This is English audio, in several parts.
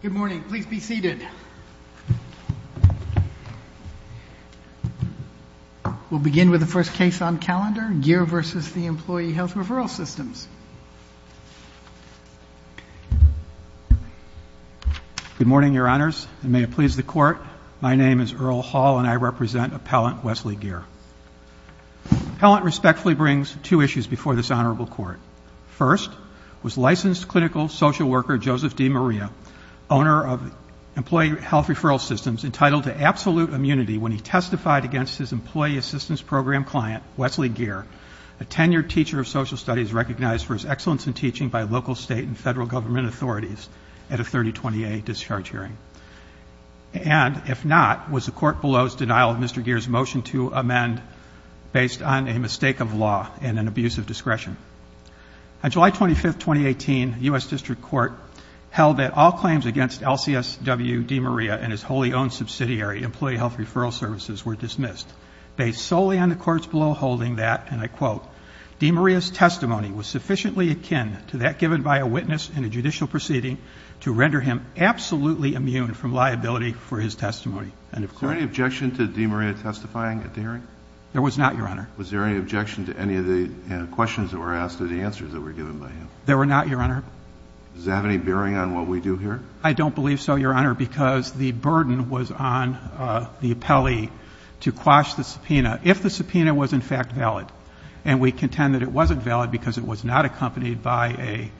Good morning. Please be seated. We'll begin with the first case on calendar, Geer v. Employee Health Referral Systems. Good morning, Your Honors, and may it please the Court, my name is Earl Hall and I represent Appellant Wesley Geer. Appellant respectfully brings two issues before this Honorable Court. First, was licensed clinical social worker Joseph D. Maria, owner of Employee Health Referral Systems, entitled to absolute immunity when he testified against his Employee Assistance Program client, Wesley Geer, a tenured teacher of social studies recognized for his excellence in teaching by local, state, and federal government authorities at a 3028 discharge hearing. And, if not, was the Court below's denial of Mr. Geer's motion to amend based on a mistake of law and an abuse of discretion. On July 25, 2018, U.S. District Court held that all claims against LCSW D. Maria and his wholly owned subsidiary, Employee Health Referral Services, were dismissed. Based solely on the courts below holding that, and I quote, D. Maria's testimony was sufficiently akin to that given by a witness in a judicial proceeding to render him absolutely immune from liability for his testimony. Is there any objection to D. Maria testifying at the hearing? There was not, Your Honor. Was there any objection to any of the questions that were asked or the answers that were given by him? There were not, Your Honor. Does that have any bearing on what we do here? I don't believe so, Your Honor, because the burden was on the appellee to quash the subpoena if the subpoena was in fact valid. And we contend that it wasn't valid because it was not accompanied by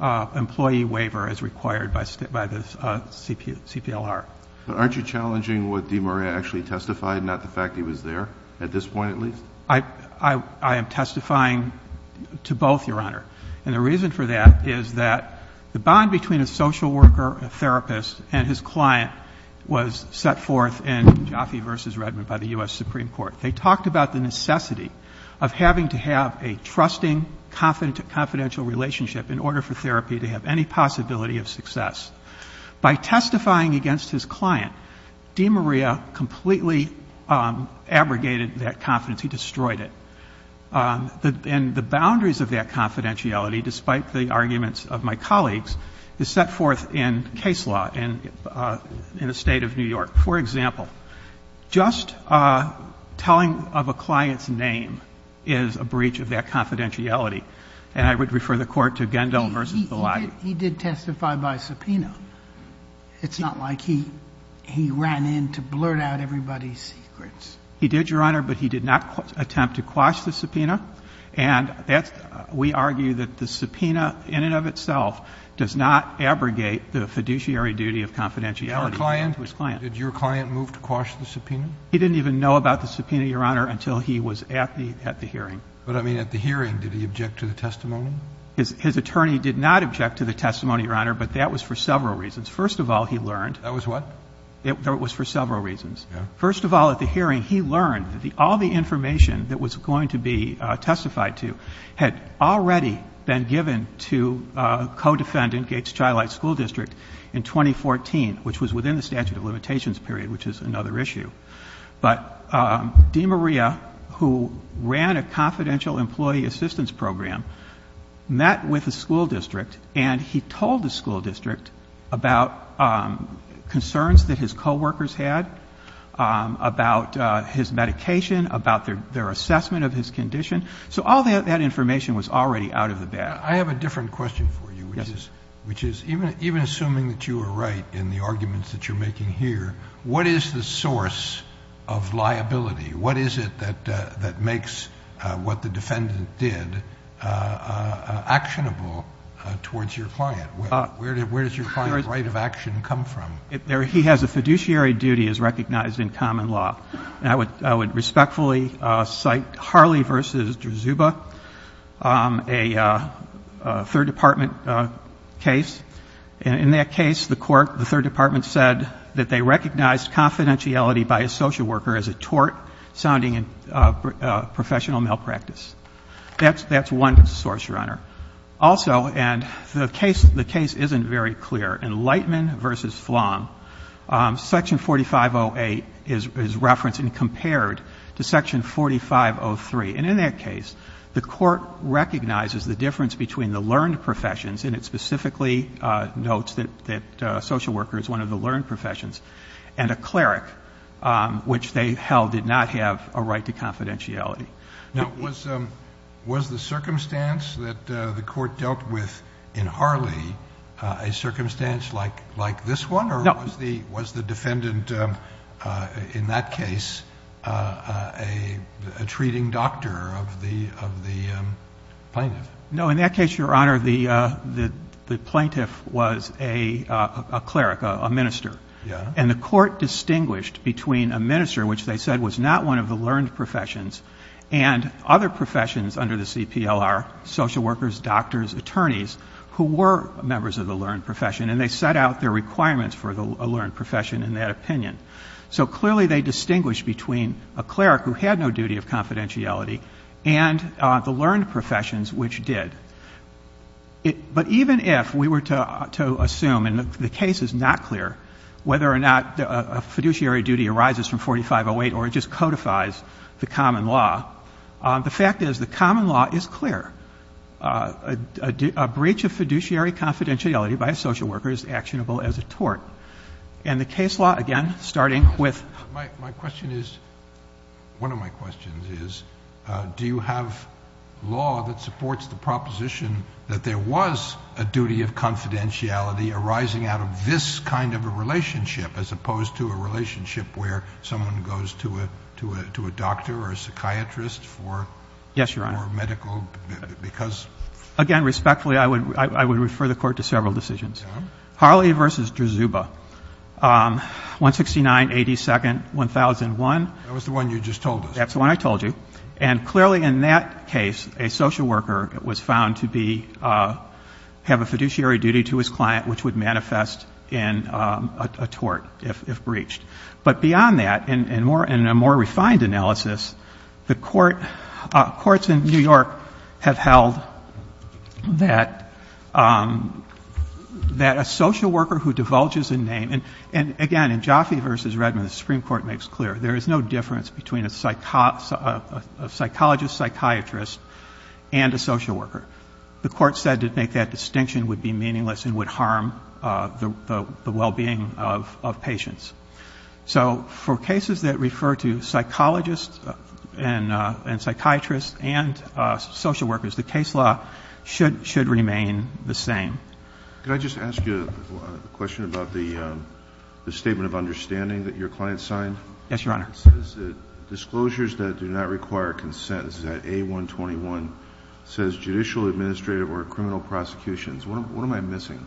an employee waiver as required by the CPLR. But aren't you challenging what D. Maria actually testified, not the fact he was there, at this point at least? I am testifying to both, Your Honor. And the reason for that is that the bond between a social worker, a therapist, and his client was set forth in Jaffe v. Redmond by the U.S. Supreme Court. They talked about the necessity of having to have a trusting, confidential relationship in order for therapy to have any possibility of success. By testifying against his client, D. Maria completely abrogated that confidence. He destroyed it. And the boundaries of that confidentiality, despite the arguments of my colleagues, is set forth in case law in the State of New York. For example, just telling of a client's name is a breach of that confidentiality. And I would refer the Court to Gendel v. Belay. He did testify by subpoena. It's not like he ran in to blurt out everybody's secrets. He did, Your Honor, but he did not attempt to quash the subpoena. And we argue that the subpoena in and of itself does not abrogate the fiduciary duty of confidentiality. Did your client move to quash the subpoena? He didn't even know about the subpoena, Your Honor, until he was at the hearing. But, I mean, at the hearing, did he object to the testimony? His attorney did not object to the testimony, Your Honor, but that was for several reasons. First of all, he learned. That was what? That was for several reasons. First of all, at the hearing, he learned that all the information that was going to be testified to had already been given to co-defendant Gates Child Light School District in 2014, which was within the statute of limitations period, which is another issue. But Dean Maria, who ran a confidential employee assistance program, met with the school district, and he told the school district about concerns that his coworkers had about his medication, about their assessment of his condition. So all that information was already out of the bag. I have a different question for you, which is, even assuming that you are right in the arguments that you're making here, what is the source of liability? What is it that makes what the defendant did actionable towards your client? Where does your client's right of action come from? He has a fiduciary duty as recognized in common law. And I would respectfully cite Harley v. Drzuba, a Third Department case. In that case, the court, the Third Department said that they recognized confidentiality by a social worker as a tort sounding professional malpractice. That's one source, Your Honor. Also, and the case isn't very clear, in Lightman v. Flom, Section 4508 is referenced and compared to Section 4503. And in that case, the court recognizes the difference between the learned professions and it specifically notes that a social worker is one of the learned professions and a cleric, which they held did not have a right to confidentiality. Now, was the circumstance that the court dealt with in Harley a circumstance like this one? No. Or was the defendant in that case a treating doctor of the plaintiff? No. In that case, Your Honor, the plaintiff was a cleric, a minister. And the court distinguished between a minister, which they said was not one of the learned professions, and other professions under the CPLR, social workers, doctors, attorneys, who were members of the learned profession. And they set out their requirements for a learned profession in that opinion. So clearly they distinguished between a cleric who had no duty of confidentiality and the learned professions, which did. But even if we were to assume, and the case is not clear, whether or not a fiduciary duty arises from 4508 or it just codifies the common law, the fact is the common law is clear. A breach of fiduciary confidentiality by a social worker is actionable as a tort. And the case law, again, starting with my question is, one of my questions is, do you have law that supports the proposition that there was a duty of confidentiality arising out of this kind of a relationship as opposed to a relationship where someone goes to a doctor or a psychiatrist for medical? Yes, Your Honor. Because? Again, respectfully, I would refer the court to several decisions. Okay. Harley v. Drzuba, 169-82nd-1001. That was the one you just told us. That's the one I told you. And clearly in that case, a social worker was found to be — have a fiduciary duty to his client, which would manifest in a tort if breached. But beyond that, in a more refined analysis, the courts in New York have held that a social worker who divulges a name — and again, in Jaffe v. Redmond, the Supreme Court has held that there is a time difference between a psychologist, psychiatrist, and a social worker. The court said to make that distinction would be meaningless and would harm the well-being of patients. So for cases that refer to psychologists and psychiatrists and social workers, the case law should remain the same. Could I just ask you a question about the statement of understanding that your client signed? Yes, Your Honor. It says that disclosures that do not require consent, is that A-121, says judicial, administrative, or criminal prosecutions. What am I missing?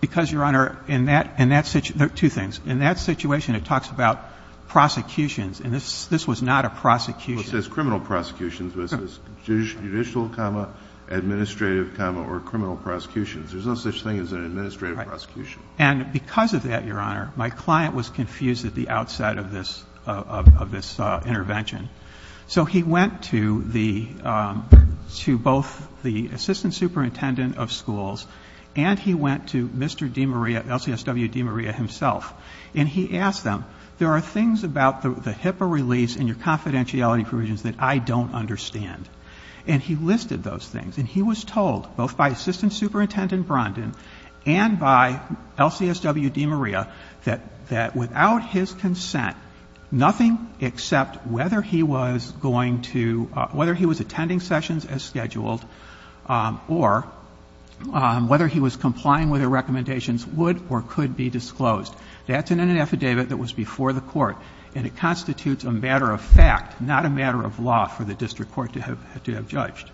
Because, Your Honor, in that — two things. In that situation, it talks about prosecutions, and this was not a prosecution. Well, it says criminal prosecutions, but it says judicial, comma, administrative, comma, or criminal prosecutions. There's no such thing as an administrative prosecution. Right. And because of that, Your Honor, my client was confused at the outset of this — of this intervention. So he went to the — to both the assistant superintendent of schools and he went to Mr. DiMaria, LCSW DiMaria himself, and he asked them, there are things about the HIPAA release and your confidentiality provisions that I don't understand. And he listed those things. And he was told, both by assistant superintendent Brondin and by LCSW DiMaria, that without his consent, nothing except whether he was going to — whether he was attending sessions as scheduled or whether he was complying with the recommendations would or could be disclosed. That's in an affidavit that was before the Court, and it constitutes a matter of fact, not a matter of law for the district court to have judged.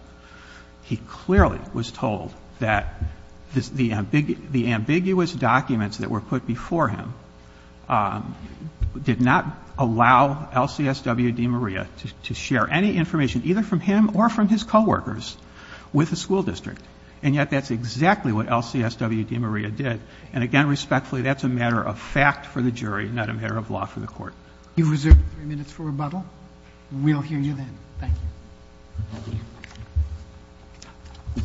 He clearly was told that the ambiguous documents that were put before him did not allow LCSW DiMaria to share any information, either from him or from his coworkers, with the school district. And yet that's exactly what LCSW DiMaria did. And again, respectfully, that's a matter of fact for the jury, not a matter of law for the court. You've reserved three minutes for rebuttal. We'll hear you then. Thank you.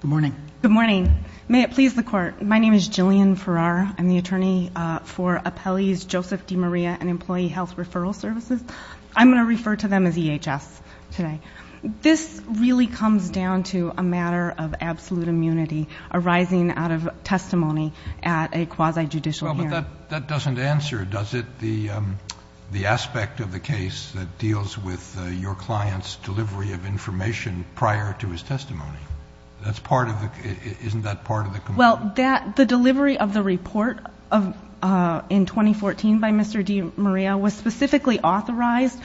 Good morning. Good morning. May it please the Court. My name is Jillian Farrar. I'm the attorney for Appellee's Joseph DiMaria and Employee Health Referral Services. I'm going to refer to them as EHS today. This really comes down to a matter of absolute immunity arising out of testimony at a quasi-judicial hearing. Well, but that doesn't answer, does it, the aspect of the case that deals with your client's delivery of information prior to his testimony? Isn't that part of the complaint? Well, the delivery of the report in 2014 by Mr. DiMaria was specifically authorized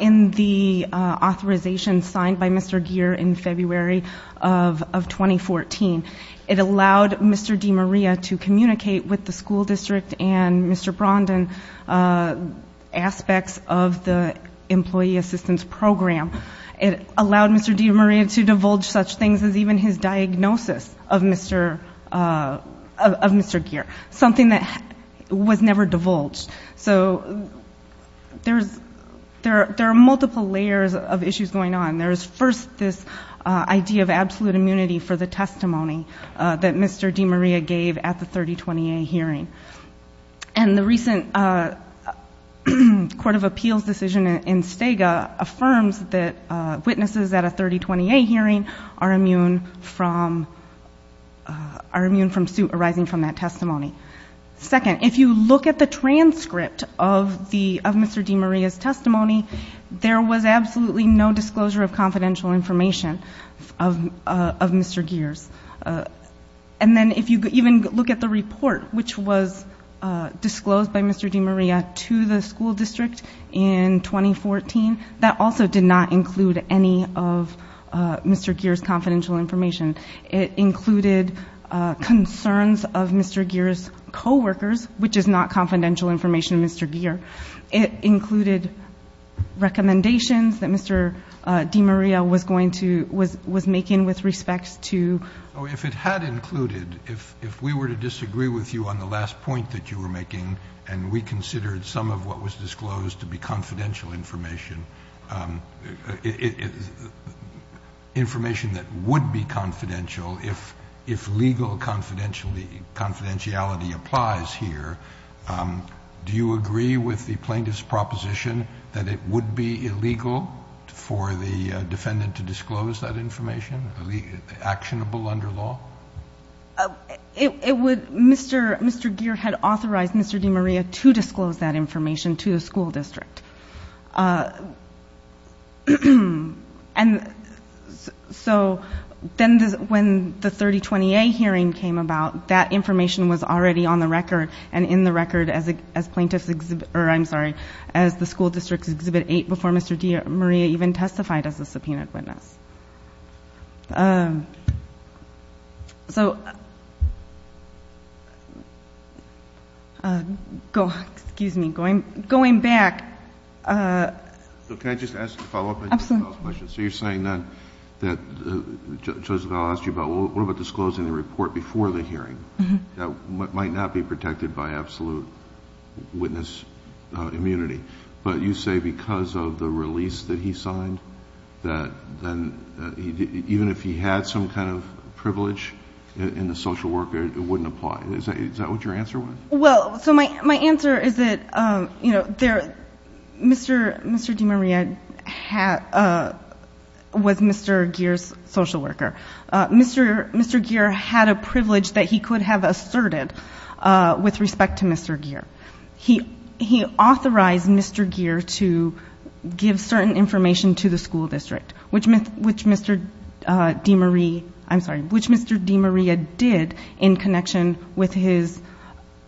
in the authorization signed by Mr. Gere in February of 2014. It allowed Mr. DiMaria to communicate with the school district and Mr. Brondin aspects of the employee assistance program. It allowed Mr. DiMaria to divulge such things as even his diagnosis of Mr. Gere, something that was never divulged. So there are multiple layers of issues going on. There is, first, this idea of absolute immunity for the testimony that Mr. DiMaria gave at the 3020A hearing. And the recent Court of Appeals decision in Stega affirms that witnesses at a 3020A hearing are immune from suit arising from that testimony. Second, if you look at the transcript of Mr. DiMaria's testimony, there was absolutely no disclosure of confidential information of Mr. Gere's. And then if you even look at the report, which was disclosed by Mr. DiMaria to the school district in 2014, that also did not include any of Mr. Gere's confidential information. It included concerns of Mr. Gere's co-workers, which is not confidential information of Mr. Gere. It included recommendations that Mr. DiMaria was going to, was making with respect to. If it had included, if we were to disagree with you on the last point that you were making and we considered some of what was disclosed to be confidential information, information that would be confidential if legal confidentiality applies here, do you agree with the plaintiff's proposition that it would be illegal for the defendant to disclose that information, actionable under law? It would, Mr. Gere had authorized Mr. DiMaria to disclose that information to the school district. And so then when the 3020A hearing came about, that information was already on the record and in the record as plaintiff's, or I'm sorry, as the school district's Exhibit 8 before Mr. DiMaria even testified as a subpoenaed witness. So, excuse me. Going back. Can I just ask a follow-up question? So you're saying then that, Joseph, I'll ask you about what about disclosing the report before the hearing that might not be protected by absolute witness immunity. But you say because of the release that he signed that even if he had some kind of privilege in the social worker, it wouldn't apply. Is that what your answer was? Well, so my answer is that, you know, Mr. DiMaria was Mr. Gere's social worker. Mr. Gere had a privilege that he could have asserted with respect to Mr. Gere. He authorized Mr. Gere to give certain information to the school district, which Mr. DiMaria did in connection with his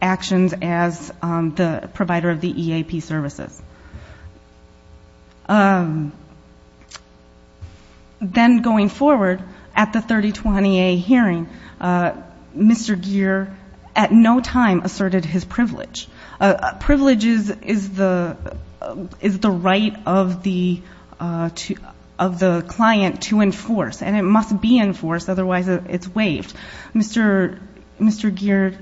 actions as the provider of the EAP services. Then going forward, at the 3020A hearing, Mr. Gere at no time asserted his privilege. Privilege is the right of the client to enforce, and it must be enforced, otherwise it's waived. Mr. Gere's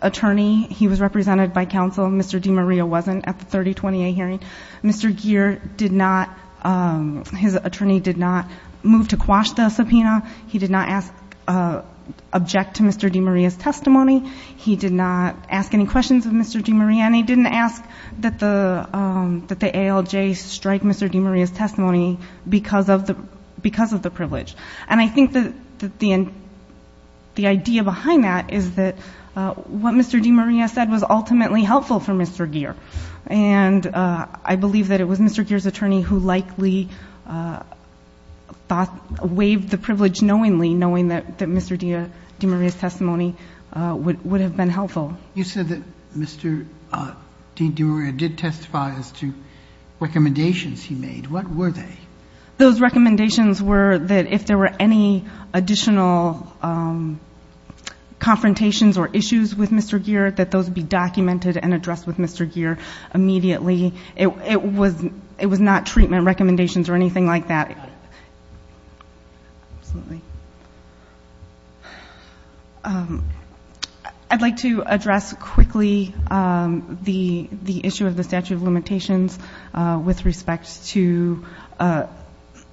attorney, he was represented by counsel. Mr. DiMaria wasn't at the 3020A hearing. Mr. Gere did not, his attorney did not move to quash the subpoena. He did not object to Mr. DiMaria's testimony. He did not ask any questions of Mr. DiMaria, and he didn't ask that the ALJ strike Mr. DiMaria's testimony because of the privilege. And I think that the idea behind that is that what Mr. DiMaria said was ultimately helpful for Mr. Gere. And I believe that it was Mr. Gere's attorney who likely waived the privilege knowingly, knowing that Mr. DiMaria's testimony would have been helpful. You said that Mr. DiMaria did testify as to recommendations he made. What were they? Those recommendations were that if there were any additional confrontations or issues with Mr. Gere, that those be documented and addressed with Mr. Gere immediately. It was not treatment recommendations or anything like that. I'd like to address quickly the issue of the statute of limitations with respect to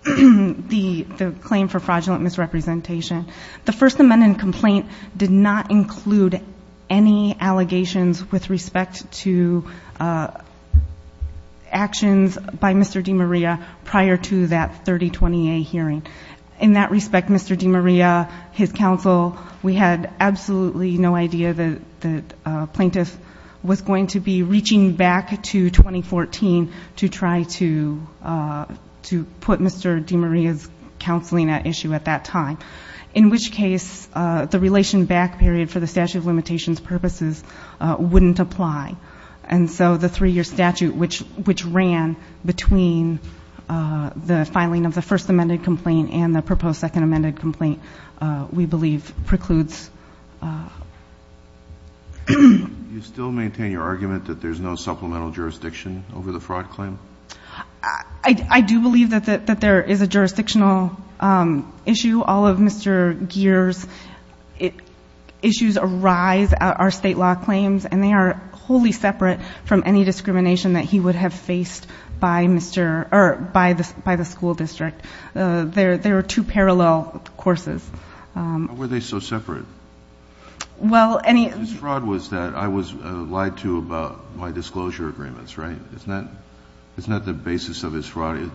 the claim for fraudulent misrepresentation. The First Amendment complaint did not include any allegations with respect to actions by Mr. DiMaria prior to that 3020A hearing. In that respect, Mr. DiMaria, his counsel, we had absolutely no idea that a plaintiff was going to be reaching back to 2014 to try to put Mr. DiMaria's counseling at issue at that time. In which case, the relation back period for the statute of limitations purposes wouldn't apply. And so the three-year statute which ran between the filing of the First Amendment complaint and the proposed Second Amendment complaint we believe precludes. Do you still maintain your argument that there's no supplemental jurisdiction over the fraud claim? I do believe that there is a jurisdictional issue. All of Mr. Gere's issues arise at our state law claims, and they are wholly separate from any discrimination that he would have faced by Mr. or by the school district. There are two parallel courses. Why were they so separate? Well, any His fraud was that I was lied to about my disclosure agreements, right? It's not the basis of his fraud.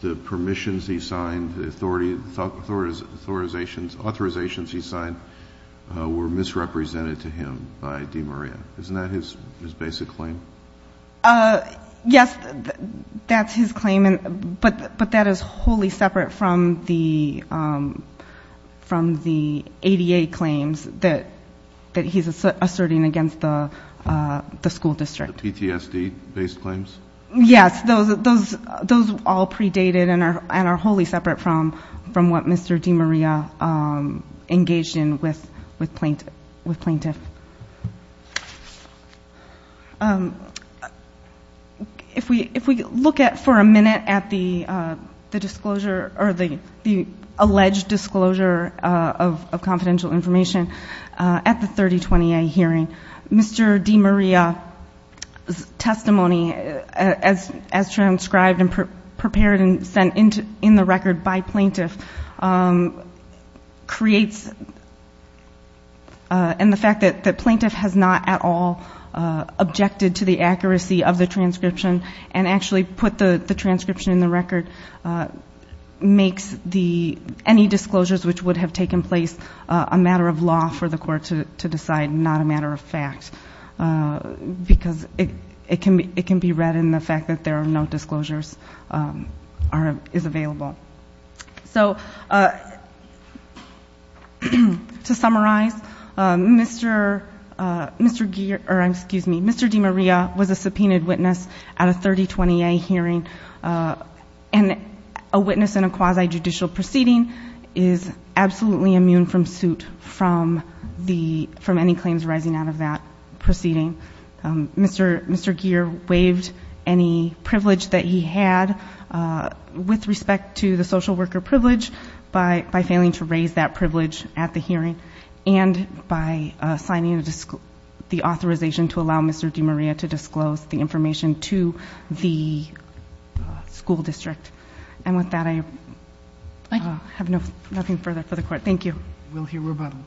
The permissions he signed, the authorizations he signed were misrepresented to him by DiMaria. Isn't that his basic claim? Yes, that's his claim. But that is wholly separate from the ADA claims that he's asserting against the school district. The PTSD-based claims? Yes, those all predated and are wholly separate from what Mr. DiMaria engaged in with plaintiff. If we look for a minute at the alleged disclosure of confidential information at the 3020A hearing, Mr. DiMaria's testimony, as transcribed and prepared and sent in the record by plaintiff, creates and the fact that the plaintiff has not at all objected to the accuracy of the transcription and actually put the transcription in the record makes any disclosures which would have taken place a matter of law for the court to decide and not a matter of fact because it can be read in the fact that there are no disclosures is available. So to summarize, Mr. DiMaria was a subpoenaed witness at a 3020A hearing and a witness in a quasi-judicial proceeding is absolutely immune from suit from any claims arising out of that proceeding. Mr. Gere waived any privilege that he had with respect to the social worker privilege by failing to raise that privilege at the hearing and by signing the authorization to allow Mr. DiMaria to disclose the information to the school district. And with that, I have nothing further for the court. Thank you. We'll hear rebuttal.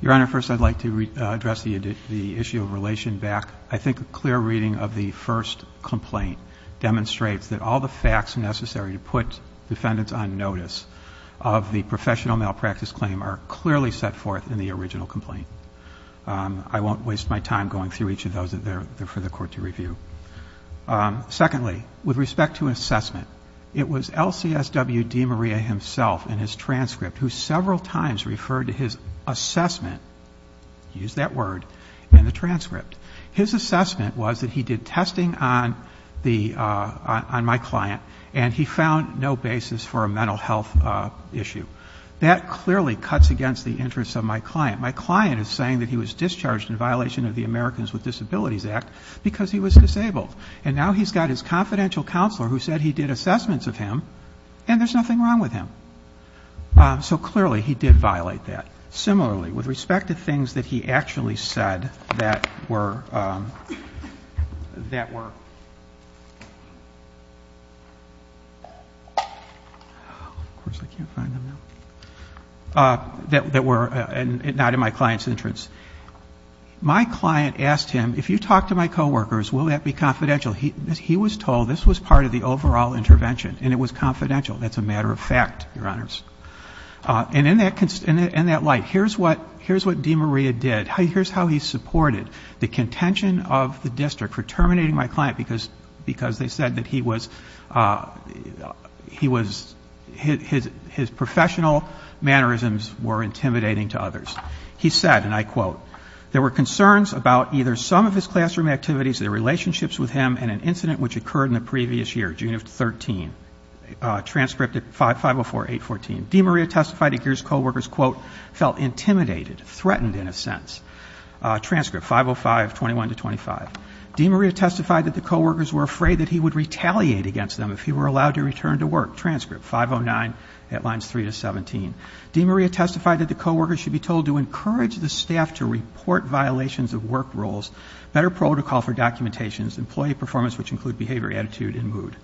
Your Honor, first I'd like to address the issue of relation back. I think a clear reading of the first complaint demonstrates that all the facts necessary to put defendants on notice of the professional malpractice claim are clearly set forth in the original complaint. I won't waste my time going through each of those for the court to review. Secondly, with respect to assessment, it was LCSW DiMaria himself in his transcript who several times referred to his assessment, use that word, in the transcript. His assessment was that he did testing on my client and he found no basis for a mental health issue. That clearly cuts against the interests of my client. My client is saying that he was discharged in violation of the Americans with Disabilities Act because he was disabled. And now he's got his confidential counselor who said he did assessments of him and there's nothing wrong with him. So clearly he did violate that. Similarly, with respect to things that he actually said that were not in my client's interest, my client asked him, if you talk to my coworkers, will that be confidential? He was told this was part of the overall intervention and it was confidential. That's a matter of fact, Your Honors. And in that light, here's what DiMaria did. Here's how he supported the contention of the district for terminating my client because they said that he was, his professional mannerisms were intimidating to others. He said, and I quote, there were concerns about either some of his classroom activities, their relationships with him, and an incident which occurred in the previous year, June of 13. Transcript 504814. DiMaria testified that his coworkers, quote, felt intimidated, threatened in a sense. Transcript 50521-25. DiMaria testified that the coworkers were afraid that he would retaliate against them if he were allowed to return to work. Transcript 509, Headlines 3-17. DiMaria testified that the coworkers should be told to encourage the staff to report violations of work rules, better protocol for documentations, employee performance, which include behavior, attitude, and mood.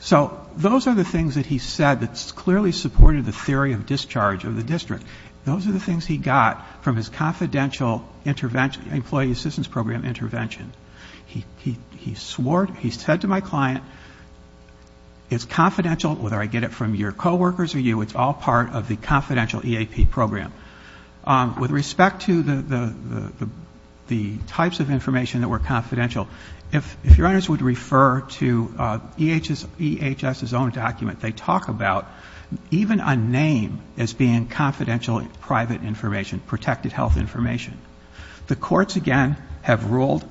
So those are the things that he said that clearly supported the theory of discharge of the district. Those are the things he got from his confidential employee assistance program intervention. He swore, he said to my client, it's confidential, whether I get it from your coworkers or you, it's all part of the confidential EAP program. With respect to the types of information that were confidential, if your honors would refer to EHS's own document, they talk about even a name as being confidential private information, protected health information. The courts, again, have ruled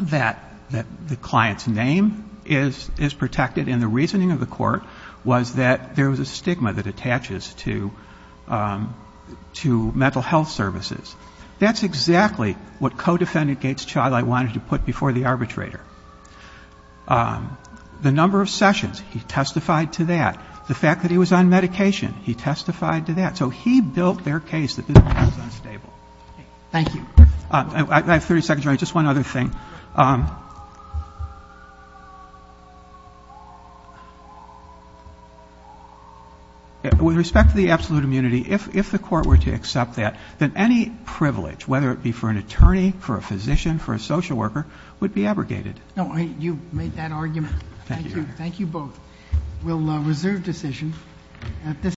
that the client's name is protected, and the reasoning of the court was that there was a stigma that attaches to mental health services. That's exactly what co-defendant Gates Child I wanted to put before the arbitrator. The number of sessions, he testified to that. The fact that he was on medication, he testified to that. So he built their case that this was unstable. Thank you. I have 30 seconds. Just one other thing. With respect to the absolute immunity, if the court were to accept that, then any privilege, whether it be for an attorney, for a physician, for a social worker, would be abrogated. No, you made that argument. Thank you. Thank you both. We'll reserve decision at this time.